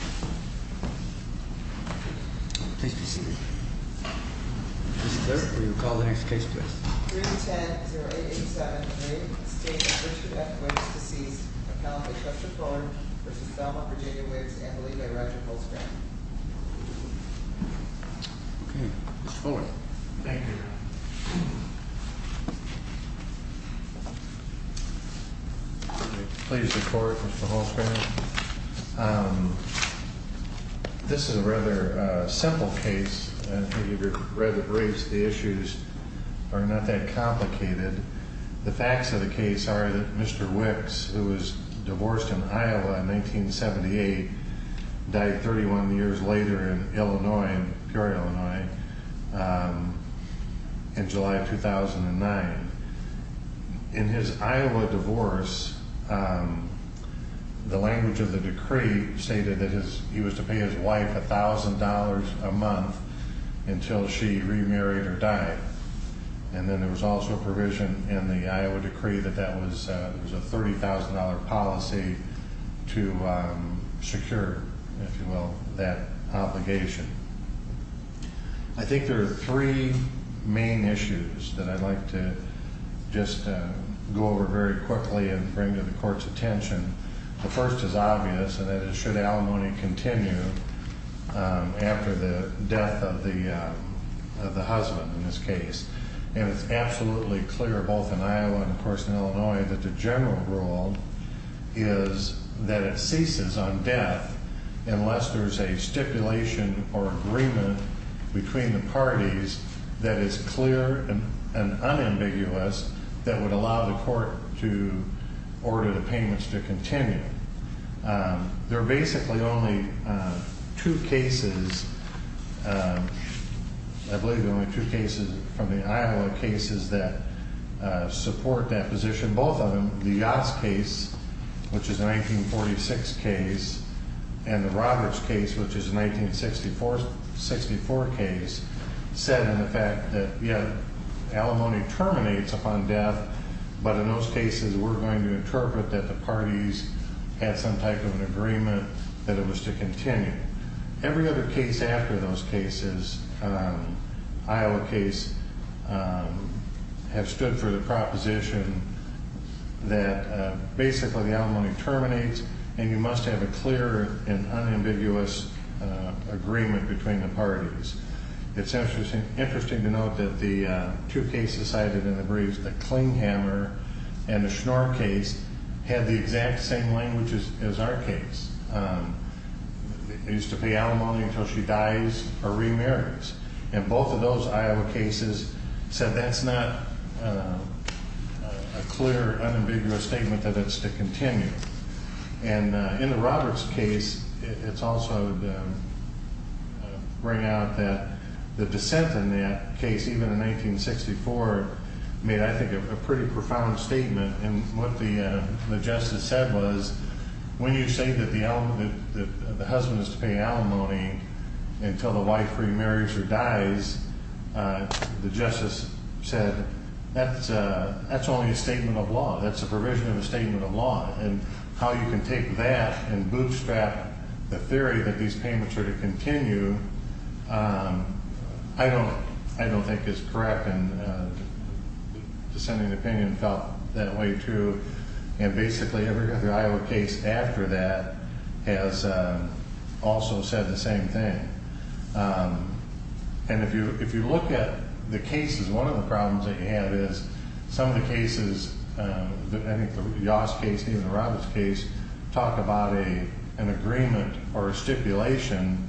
310-0887, estate of Richard F. Wicks, deceased, account of H. Hester Thorne v. Thelma Virginia Wicks, and the lead by Roger Holtzgram. Mr. Thorne. Thank you. Please report, Mr. Holtzgram. This is a rather simple case, and if you've read the briefs, the issues are not that complicated. The facts of the case are that Mr. Wicks, who was divorced in Iowa in 1978, died 31 years later in Illinois, in pure Illinois, in July of 2009. In his Iowa divorce, the language of the decree stated that he was to pay his wife $1,000 a month until she remarried or died. And then there was also a provision in the Iowa decree that that was a $30,000 policy to secure, if you will, that obligation. I think there are three main issues that I'd like to just go over very quickly and bring to the Court's attention. The first is obvious, and that is should alimony continue after the death of the husband in this case. And it's absolutely clear, both in Iowa and, of course, in Illinois, that the general rule is that it ceases on death unless there's a stipulation or agreement between the parties that is clear and unambiguous that would allow the Court to order the payments to continue. There are basically only two cases, I believe there are only two cases from the Iowa cases that support that position, both of them. The Yost case, which is a 1946 case, and the Roberts case, which is a 1964 case, said in effect that, yeah, alimony terminates upon death, but in those cases we're going to interpret that the parties had some type of an agreement that it was to continue. Every other case after those cases, Iowa case, have stood for the proposition that basically the alimony terminates and you must have a clear and unambiguous agreement between the parties. It's interesting to note that the two cases cited in the brief, the Klinghammer and the Schnorr case, had the exact same language as our case. It used to be alimony until she dies or remarries. And both of those Iowa cases said that's not a clear, unambiguous statement that it's to continue. And in the Roberts case, it's also to bring out that the dissent in that case, even in 1964, made, I think, a pretty profound statement. And what the justice said was when you say that the husband is to pay alimony until the wife remarries or dies, the justice said that's only a statement of law. That's a provision of a statement of law. And how you can take that and bootstrap the theory that these payments are to continue, I don't think is correct. And the dissenting opinion felt that way, too. And basically every other Iowa case after that has also said the same thing. And if you look at the cases, one of the problems that you have is some of the cases, I think the Yost case, even the Roberts case, talk about an agreement or a stipulation,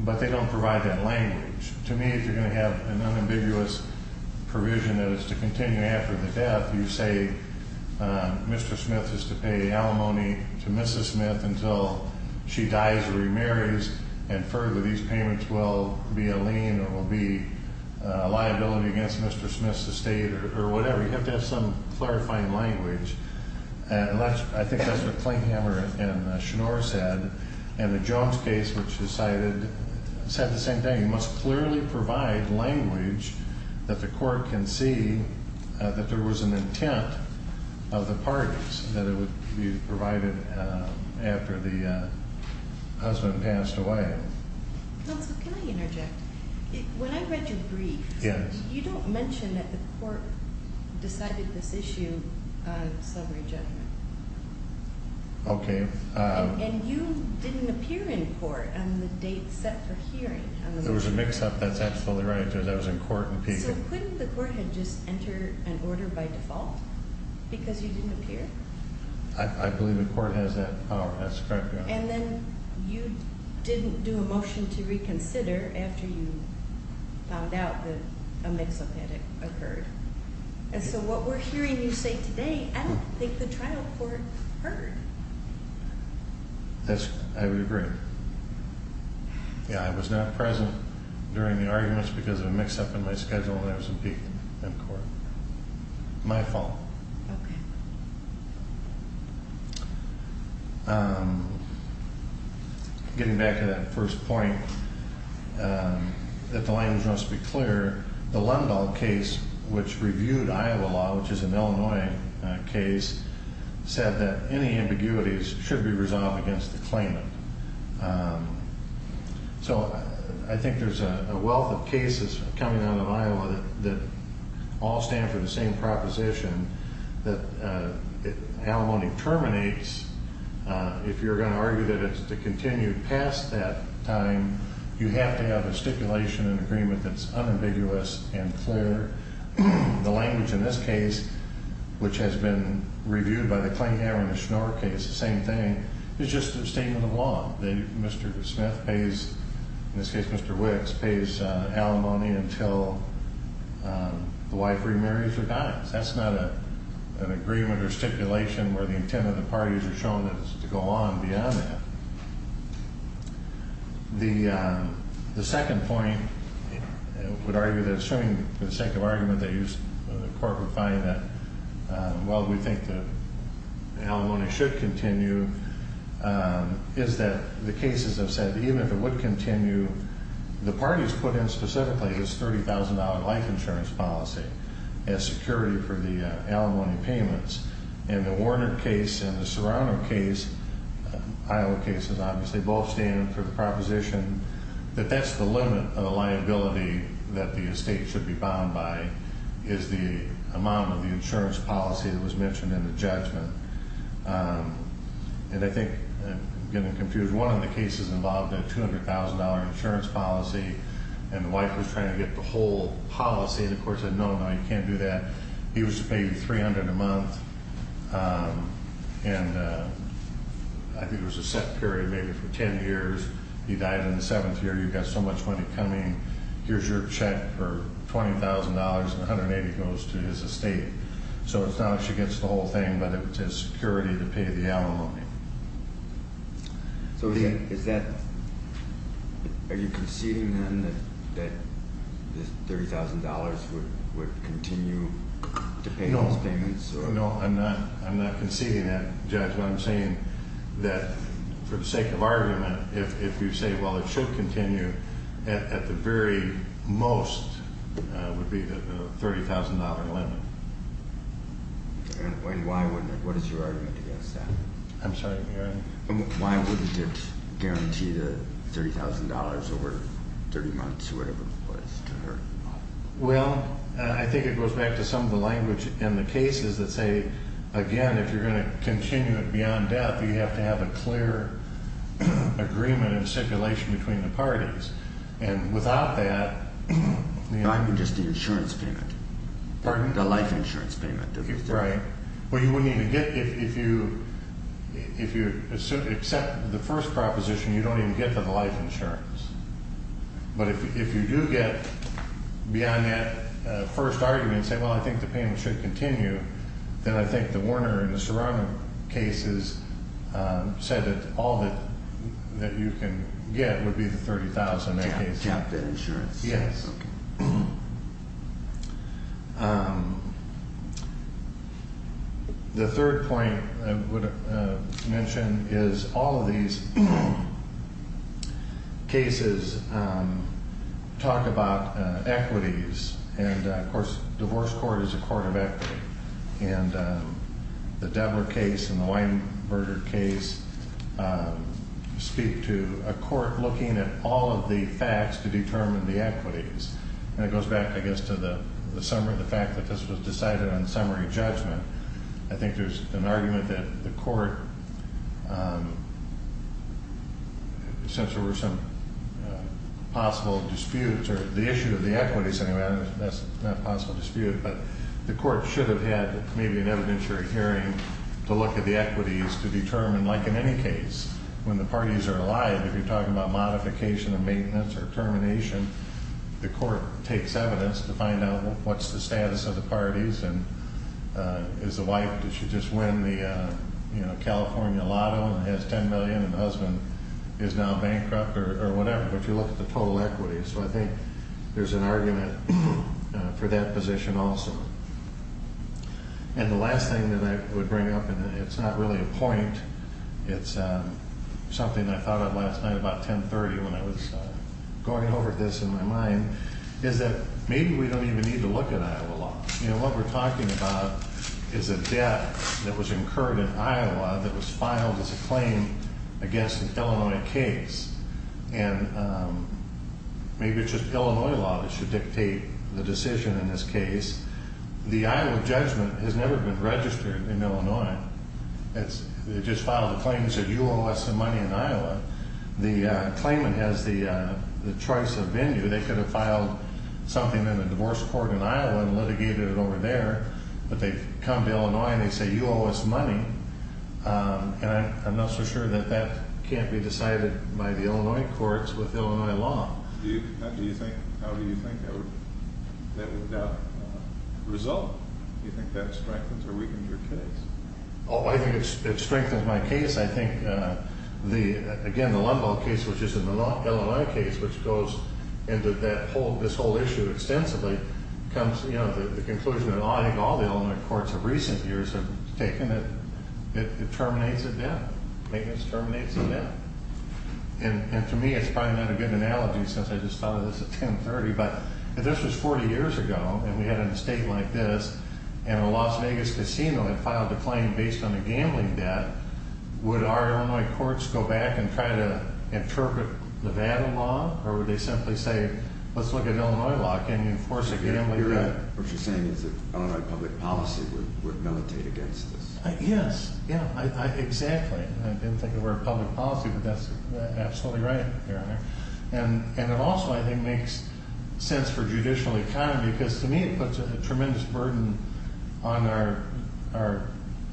but they don't provide that language. To me, if you're going to have an unambiguous provision that it's to continue after the death, you say Mr. Smith is to pay alimony to Mrs. Smith until she dies or remarries, and further these payments will be a lien or will be a liability against Mr. Smith's estate or whatever. You have to have some clarifying language. And I think that's what Klinghammer and Schnoor said. And the Jones case, which decided, said the same thing. You must clearly provide language that the court can see that there was an intent of the parties that it would be provided after the husband passed away. Counsel, can I interject? When I read your brief, you don't mention that the court decided this issue of slavery judgment. Okay. And you didn't appear in court on the date set for hearing. There was a mix-up. That's absolutely right because I was in court. So couldn't the court have just entered an order by default because you didn't appear? I believe the court has that power. And then you didn't do a motion to reconsider after you found out that a mix-up had occurred. And so what we're hearing you say today, I don't think the trial court heard. I would agree. Yeah, I was not present during the arguments because of a mix-up in my schedule and I was in court. My fault. Okay. Getting back to that first point, that the language must be clear, the Lundahl case, which reviewed Iowa law, which is an Illinois case, said that any ambiguities should be resolved against the claimant. So I think there's a wealth of cases coming out of Iowa that all stand for the same proposition, that alimony terminates. If you're going to argue that it's to continue past that time, you have to have a stipulation, an agreement that's unambiguous and clear. The language in this case, which has been reviewed by the Clingham and the Schnorr case, the same thing, is just a statement of law. Mr. Smith pays, in this case Mr. Wicks, pays alimony until the wife remarries or dies. That's not an agreement or stipulation where the intent of the parties are shown to go on beyond that. The second point, I would argue that assuming the second argument they used, the corporate buying it, while we think that alimony should continue, is that the cases have said even if it would continue, the parties put in specifically this $30,000 life insurance policy as security for the alimony payments. In the Warner case and the Serrano case, Iowa cases obviously, both stand for the proposition that that's the limit of the liability that the estate should be bound by, is the amount of the insurance policy that was mentioned in the judgment. And I think, I'm getting confused, one of the cases involved a $200,000 insurance policy and the wife was trying to get the whole policy and the court said no, no, you can't do that. He was to pay $300,000 a month and I think it was a set period, maybe for 10 years. He died in the seventh year, you've got so much money coming. Here's your check for $20,000 and $180,000 goes to his estate. So it's not actually against the whole thing, but it's his security to pay the alimony. So are you conceding then that this $30,000 would continue to pay those payments? No, I'm not conceding that, Judge. What I'm saying that for the sake of argument, if you say, well, it should continue, at the very most would be the $30,000 limit. And why wouldn't it? What is your argument against that? I'm sorry. Why wouldn't it guarantee the $30,000 over 30 months or whatever it was to her? Well, I think it goes back to some of the language in the cases that say, again, if you're going to continue it beyond death, you have to have a clear agreement and stipulation between the parties. And without that... I mean just the insurance payment. Pardon? The life insurance payment. Right. Well, you wouldn't even get, if you accept the first proposition, you don't even get the life insurance. But if you do get beyond that first argument and say, well, I think the payment should continue, then I think the Warner and the Serrano cases said that all that you can get would be the $30,000. Cap insurance. Yes. Okay. The third point I would mention is all of these cases talk about equities. And, of course, divorce court is a court of equity. And the Devler case and the Weinberger case speak to a court looking at all of the facts to determine the equities. And it goes back, I guess, to the fact that this was decided on summary judgment. I think there's an argument that the court, since there were some possible disputes, or the issue of the equities, anyway, that's not a possible dispute, but the court should have had maybe an evidentiary hearing to look at the equities to determine, like in any case, when the parties are alive, if you're talking about modification of maintenance or termination, the court takes evidence to find out what's the status of the parties and is the wife that should just win the California lotto and has $10 million and the husband is now bankrupt or whatever, but you look at the total equities. So I think there's an argument for that position also. And the last thing that I would bring up, and it's not really a point, it's something I thought of last night about 10.30 when I was going over this in my mind, is that maybe we don't even need to look at Iowa law. You know, what we're talking about is a debt that was incurred in Iowa that was filed as a claim against an Illinois case. And maybe it's just Illinois law that should dictate the decision in this case. The Iowa judgment has never been registered in Illinois. It just filed a claim and said you owe us some money in Iowa. The claimant has the choice of venue. They could have filed something in a divorce court in Iowa and litigated it over there, but they've come to Illinois and they say you owe us money. And I'm not so sure that that can't be decided by the Illinois courts with Illinois law. How do you think that would result? Do you think that strengthens or weakens your case? Oh, I think it strengthens my case. I think, again, the Lumbauld case, which is an Illinois case, which goes into this whole issue extensively, comes to the conclusion that I think all the Illinois courts of recent years have taken it. It terminates a debt. Maintenance terminates a debt. And to me, it's probably not a good analogy since I just thought of this at 1030, but if this was 40 years ago and we had an estate like this and a Las Vegas casino had filed a claim based on a gambling debt, would our Illinois courts go back and try to interpret Nevada law? Or would they simply say, let's look at Illinois law and enforce a gambling debt? What you're saying is that Illinois public policy would militate against this. Yes. Exactly. I didn't think it were public policy, but that's absolutely right, Your Honor. And it also, I think, makes sense for judicial economy because to me it puts a tremendous burden on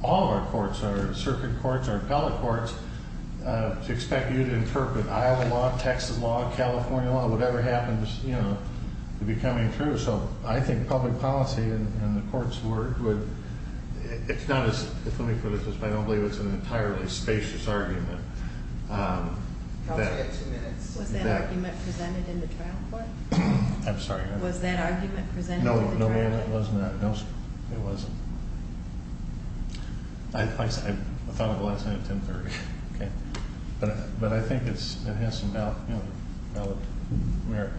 all of our courts, our circuit courts, our appellate courts, to expect you to interpret Iowa law, Texas law, California law, whatever happens to be coming through. So I think public policy and the court's work would, it's not as, if let me put it this way, I don't believe it's an entirely spacious argument. I'll take two minutes. Was that argument presented in the trial court? I'm sorry. Was that argument presented in the trial court? No, Your Honor, it wasn't. I thought of it last night at 1030. But I think it has some valid merit.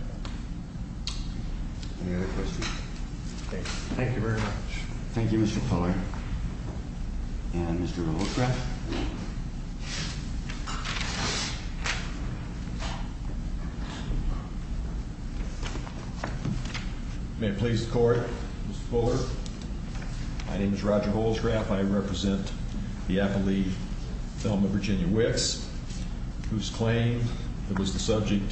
Any other questions? Thank you very much. Thank you, Mr. Fuller. And Mr. Holcrest. May it please the Court, Mr. Fuller. My name is Roger Holcrest. I represent the appellee, Thelma Virginia Wicks, whose claim that was the subject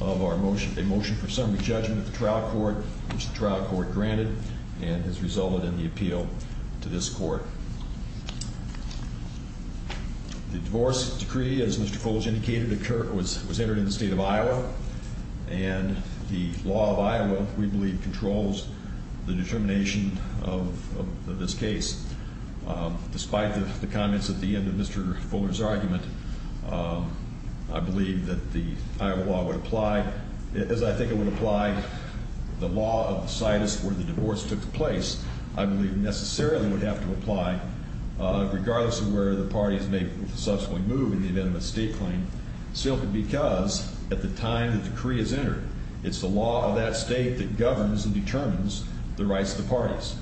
of our motion, a motion for summary judgment at the trial court, which the trial court granted and has resulted in the appeal to this court. The divorce decree, as Mr. Fuller indicated, was entered in the state of Iowa. And the law of Iowa, we believe, controls the determination of this case. Despite the comments at the end of Mr. Fuller's argument, I believe that the Iowa law would apply. As I think it would apply, the law of the situs where the divorce took place, I believe, necessarily would have to apply, regardless of where the parties may subsequently move in the event of a state claim, simply because at the time the decree is entered, it's the law of that state that governs and determines the rights of the parties.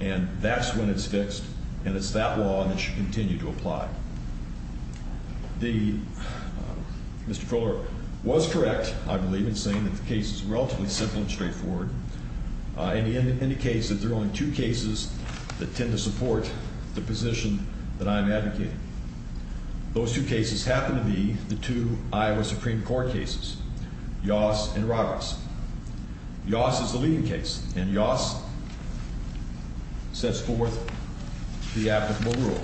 And that's when it's fixed, and it's that law that should continue to apply. Mr. Fuller was correct, I believe, in saying that the case is relatively simple and straightforward, and he indicates that there are only two cases that tend to support the position that I'm advocating. Those two cases happen to be the two Iowa Supreme Court cases, Yoss and Roberts. Yoss is the leading case, and Yoss sets forth the applicable rule,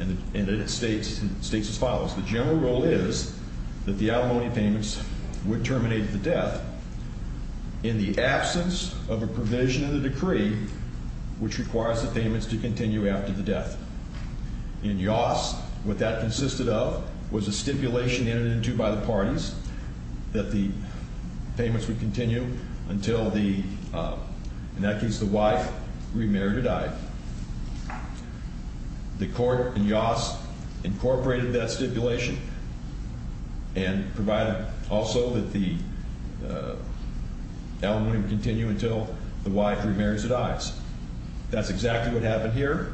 and it states as follows. The general rule is that the alimony payments would terminate the death in the absence of a provision in the decree which requires the payments to continue after the death. In Yoss, what that consisted of was a stipulation entered into by the parties that the payments would continue until the, in that case, the wife remarried or died. The court in Yoss incorporated that stipulation and provided also that the alimony would continue until the wife remarries or dies. That's exactly what happened here,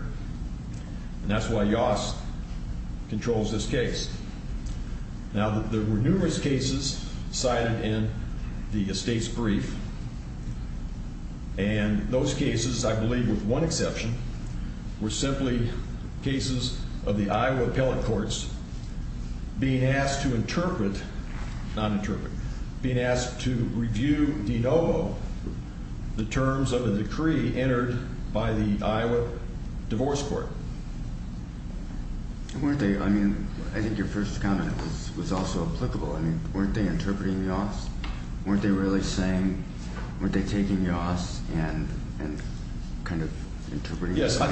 and that's why Yoss controls this case. Now, there were numerous cases cited in the estate's brief, and those cases, I believe with one exception, were simply cases of the Iowa appellate courts being asked to interpret, not interpret, being asked to review de novo the terms of a decree entered by the Iowa Divorce Court. Weren't they, I mean, I think your first comment was also applicable. I mean, weren't they interpreting Yoss? Weren't they really saying, weren't they taking Yoss and kind of interpreting it? Yes, I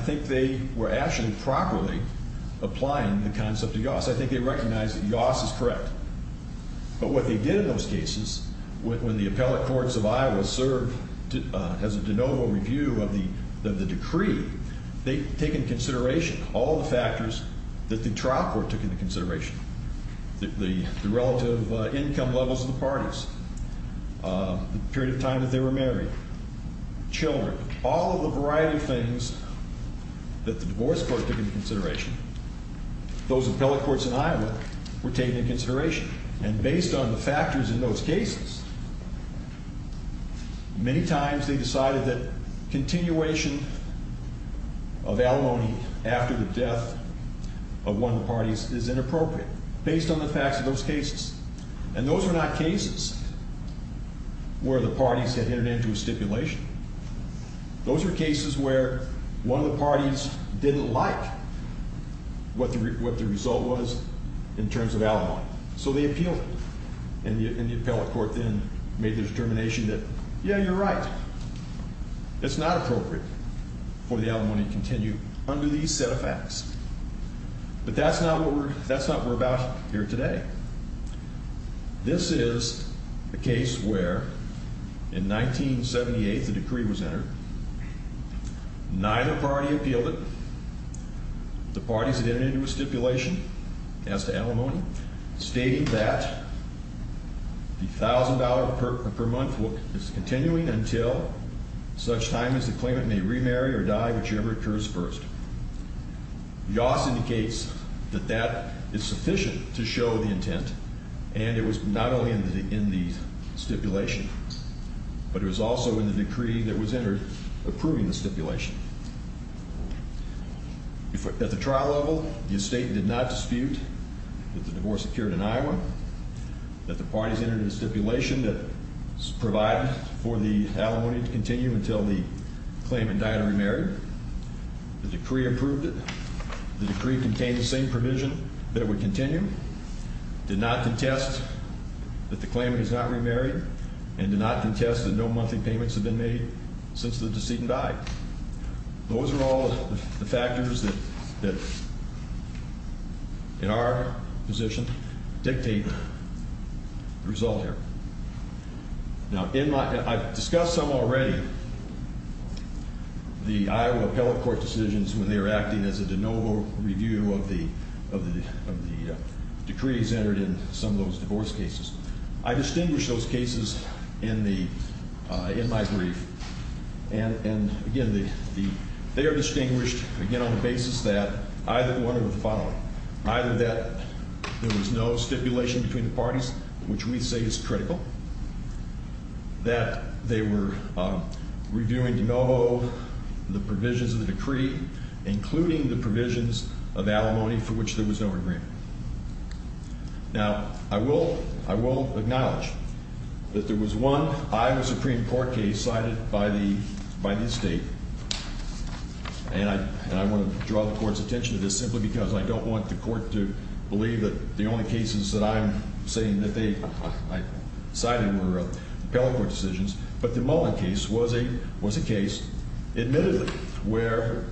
think they were actually properly applying the concept of Yoss. I think they recognized that Yoss is correct. But what they did in those cases, when the appellate courts of Iowa served as a de novo review of the decree, they take into consideration all the factors that the trial court took into consideration, the relative income levels of the parties, the period of time that they were married, children, all of the variety of things that the divorce court took into consideration. Those appellate courts in Iowa were taken into consideration, and based on the factors in those cases, many times they decided that continuation of alimony after the death of one of the parties is inappropriate, based on the facts of those cases. And those were not cases where the parties had entered into a stipulation. Those were cases where one of the parties didn't like what the result was in terms of alimony, so they appealed it. And the appellate court then made the determination that, yeah, you're right. It's not appropriate for the alimony to continue under these set of facts. But that's not what we're about here today. This is a case where, in 1978, the decree was entered. Neither party appealed it. The parties had entered into a stipulation as to alimony, stating that the $1,000 per month is continuing until such time as the claimant may remarry or die, whichever occurs first. Yoss indicates that that is sufficient to show the intent. And it was not only in the stipulation, but it was also in the decree that was entered approving the stipulation. At the trial level, the estate did not dispute that the divorce occurred in Iowa, that the parties entered into a stipulation that provided for the alimony to continue until the claimant died or remarried. The decree approved it. The decree contained the same provision that it would continue, did not contest that the claimant has not remarried, and did not contest that no monthly payments have been made since the decedent died. Those are all the factors that, in our position, dictate the result here. Now, I've discussed some already, the Iowa appellate court decisions, when they were acting as a de novo review of the decrees entered in some of those divorce cases. I distinguish those cases in my brief. And, again, they are distinguished, again, on the basis that either one of the following. Which we say is critical, that they were reviewing de novo the provisions of the decree, including the provisions of alimony for which there was no agreement. Now, I will acknowledge that there was one Iowa Supreme Court case cited by the estate. And I want to draw the court's attention to this simply because I don't want the court to believe that the only cases that I'm saying that they cited were appellate court decisions. But the Mullen case was a case admittedly where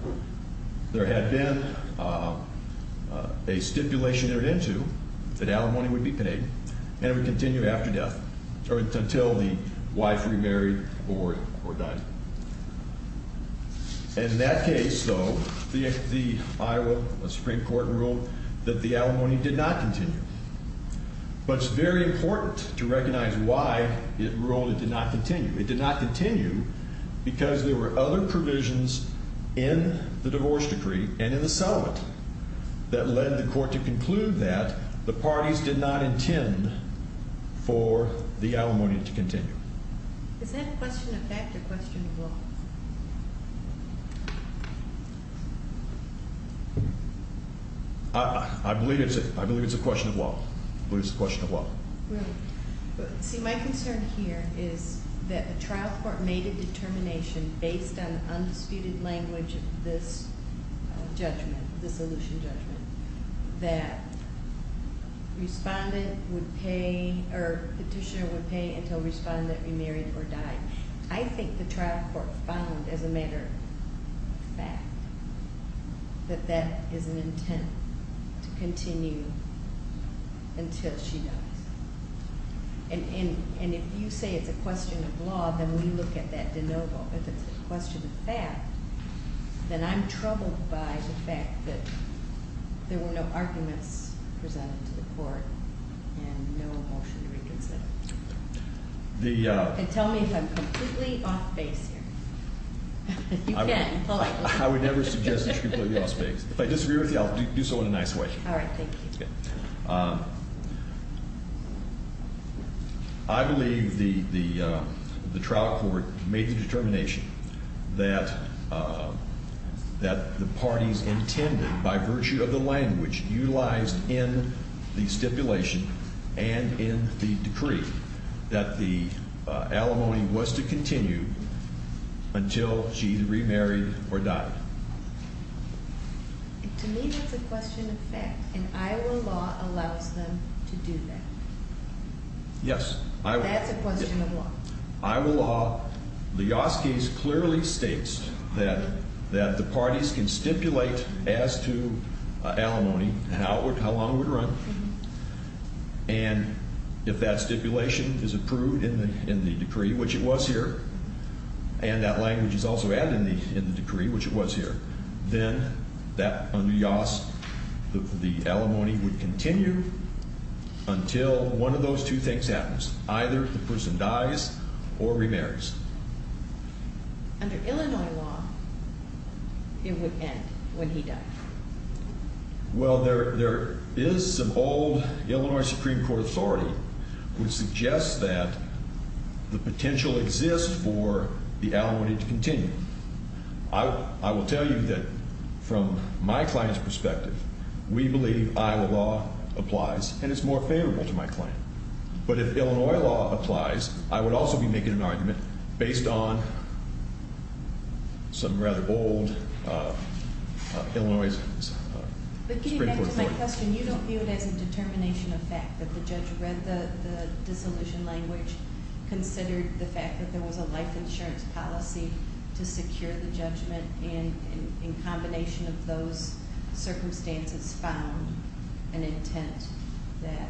there had been a stipulation entered into that alimony would be paid and it would continue after death, or until the wife remarried or died. In that case, though, the Iowa Supreme Court ruled that the alimony did not continue. But it's very important to recognize why it ruled it did not continue. It did not continue because there were other provisions in the divorce decree and in the settlement that led the court to conclude that the parties did not intend for the alimony to continue. Is that a question of fact or a question of law? I believe it's a question of law. I believe it's a question of law. See, my concern here is that the trial court made a determination based on the undisputed language of this judgment, the solution judgment, that respondent would pay or petitioner would pay until respondent remarried or died. I think the trial court found as a matter of fact that that is an intent to continue until she dies. And if you say it's a question of law, then we look at that de novo. If it's a question of fact, then I'm troubled by the fact that there were no arguments presented to the court and no motion to reconsider. And tell me if I'm completely off base here. You can. I would never suggest that you're completely off base. If I disagree with you, I'll do so in a nice way. All right. Thank you. I believe the trial court made the determination that the parties intended by virtue of the language utilized in the stipulation and in the decree that the alimony was to continue until she remarried or died. To me, that's a question of fact, and Iowa law allows them to do that. Yes. That's a question of law. Iowa law, the Yaas case clearly states that the parties can stipulate as to alimony how long it would run. And if that stipulation is approved in the decree, which it was here, and that language is also added in the decree, which it was here, then that on the Yaas, the alimony would continue until one of those two things happens. Either the person dies or remarries. Under Illinois law, it would end when he died. Well, there is some old Illinois Supreme Court authority which suggests that the potential exists for the alimony to continue. I will tell you that from my client's perspective, we believe Iowa law applies, and it's more favorable to my client. But if Illinois law applies, I would also be making an argument based on some rather old Illinois Supreme Court authority. But getting back to my question, you don't view it as a determination of fact that the judge read the dissolution language, considered the fact that there was a life insurance policy to secure the judgment, and in combination of those circumstances found an intent that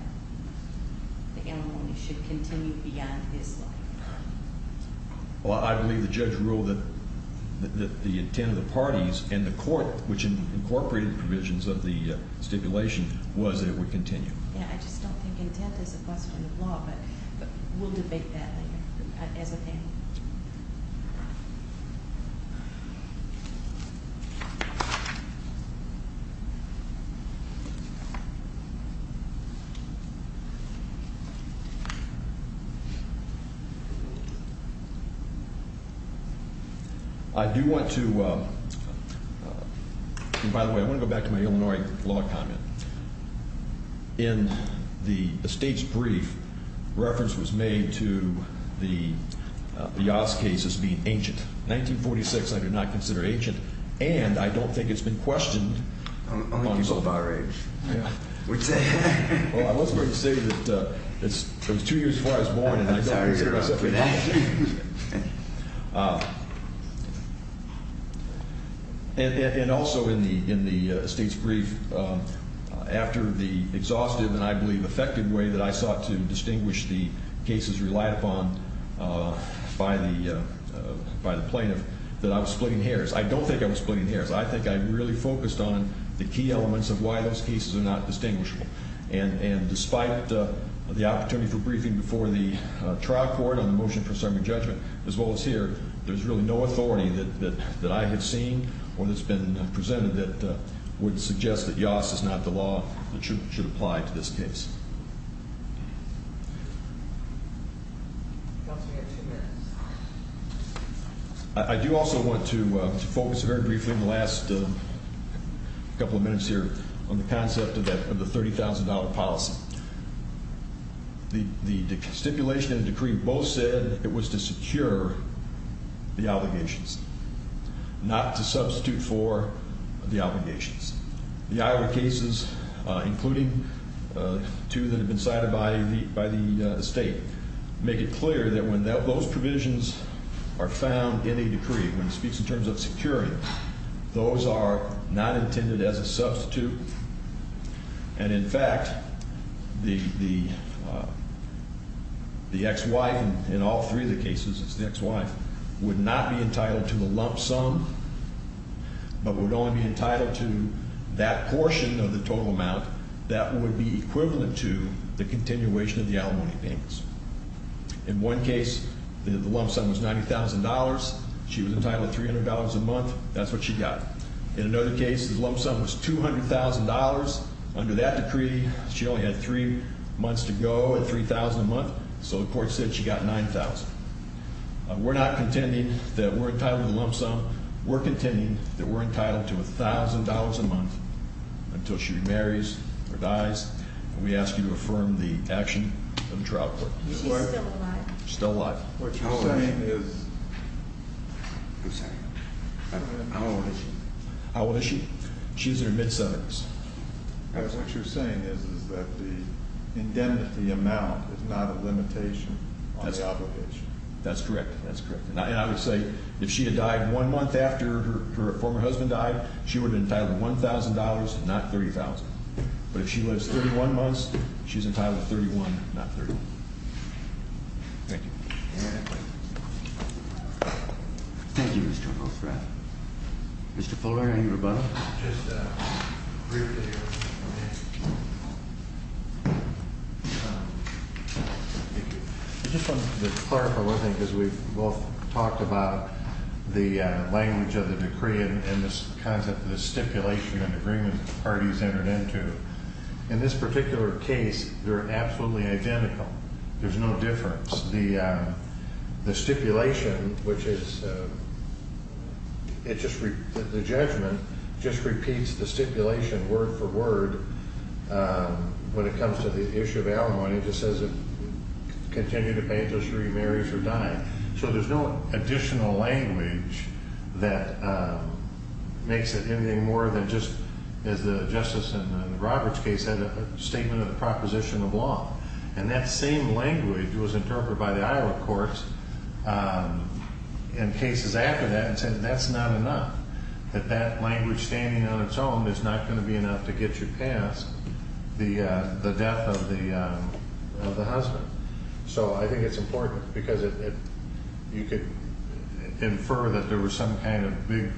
the alimony should continue beyond his life. Well, I believe the judge ruled that the intent of the parties and the court, which incorporated provisions of the stipulation, was that it would continue. Yeah, I just don't think intent is a question of law, but we'll debate that later as a panel. I do want to – and by the way, I want to go back to my Illinois law comment. In the state's brief, reference was made to the Yaas case as being ancient. In 1946, I did not consider it ancient, and I don't think it's been questioned. Only people of our age would say that. Well, I was going to say that it was two years before I was born, and I don't consider myself an agent. And also in the state's brief, after the exhaustive and I believe effective way that I sought to distinguish the cases relied upon by the plaintiff, that I was splitting hairs. I don't think I was splitting hairs. I think I really focused on the key elements of why those cases are not distinguishable. And despite the opportunity for briefing before the trial court on the motion for serving judgment, as well as here, there's really no authority that I have seen or that's been presented that would suggest that Yaas is not the law that should apply to this case. I do also want to focus very briefly in the last couple of minutes here on the concept of the $30,000 policy. The stipulation and decree both said it was to secure the obligations, not to substitute for the obligations. The Iowa cases, including two that have been cited by the state, make it clear that when those provisions are found in a decree, when it speaks in terms of securing, those are not intended as a substitute. And in fact, the ex-wife in all three of the cases, it's the ex-wife, would not be entitled to the lump sum, but would only be entitled to that portion of the total amount that would be equivalent to the continuation of the alimony payments. In one case, the lump sum was $90,000. She was entitled to $300 a month. That's what she got. In another case, the lump sum was $200,000. Under that decree, she only had three months to go at $3,000 a month, so the court said she got $9,000. We're not contending that we're entitled to the lump sum. We're contending that we're entitled to $1,000 a month until she marries or dies, and we ask you to affirm the action of the trial court. Is she still alive? She's still alive. What you're saying is- I'm sorry. How old is she? How old is she? She's in her mid-70s. What you're saying is that the indemnity amount is not a limitation on the obligation. That's correct. That's correct. And I would say if she had died one month after her former husband died, she would have been entitled to $1,000, not $30,000. But if she lives 31 months, she's entitled to 31, not 30. Thank you. Any other questions? Thank you, Mr. Rothrath. Mr. Fuller, are you rebuttal? Just briefly. I just wanted to clarify one thing, because we've both talked about the language of the decree and the concept of the stipulation and agreement the parties entered into. In this particular case, they're absolutely identical. There's no difference. The stipulation, which is-the judgment just repeats the stipulation word for word when it comes to the issue of alimony. It just says continue to pay interest, remarry if you're dying. So there's no additional language that makes it anything more than just, as the Justice in the Roberts case had a statement of the proposition of law. And that same language was interpreted by the Iowa courts in cases after that and said that's not enough, that that language standing on its own is not going to be enough to get you past the death of the husband. So I think it's important because you could infer that there was some kind of big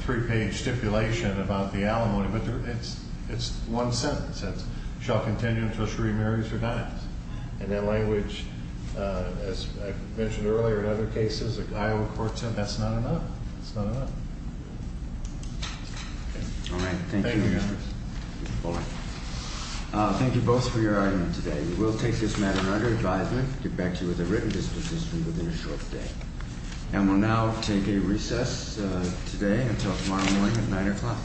three-page stipulation about the alimony, but it's one sentence. It's shall continue until she remarries or dies. And that language, as I mentioned earlier in other cases, the Iowa courts said that's not enough. It's not enough. All right. Thank you, Mr. Fuller. Thank you both for your argument today. We will take this matter under advisement and get back to you with a written disposition within a short day. And we'll now take a recess today until tomorrow morning at 9 o'clock.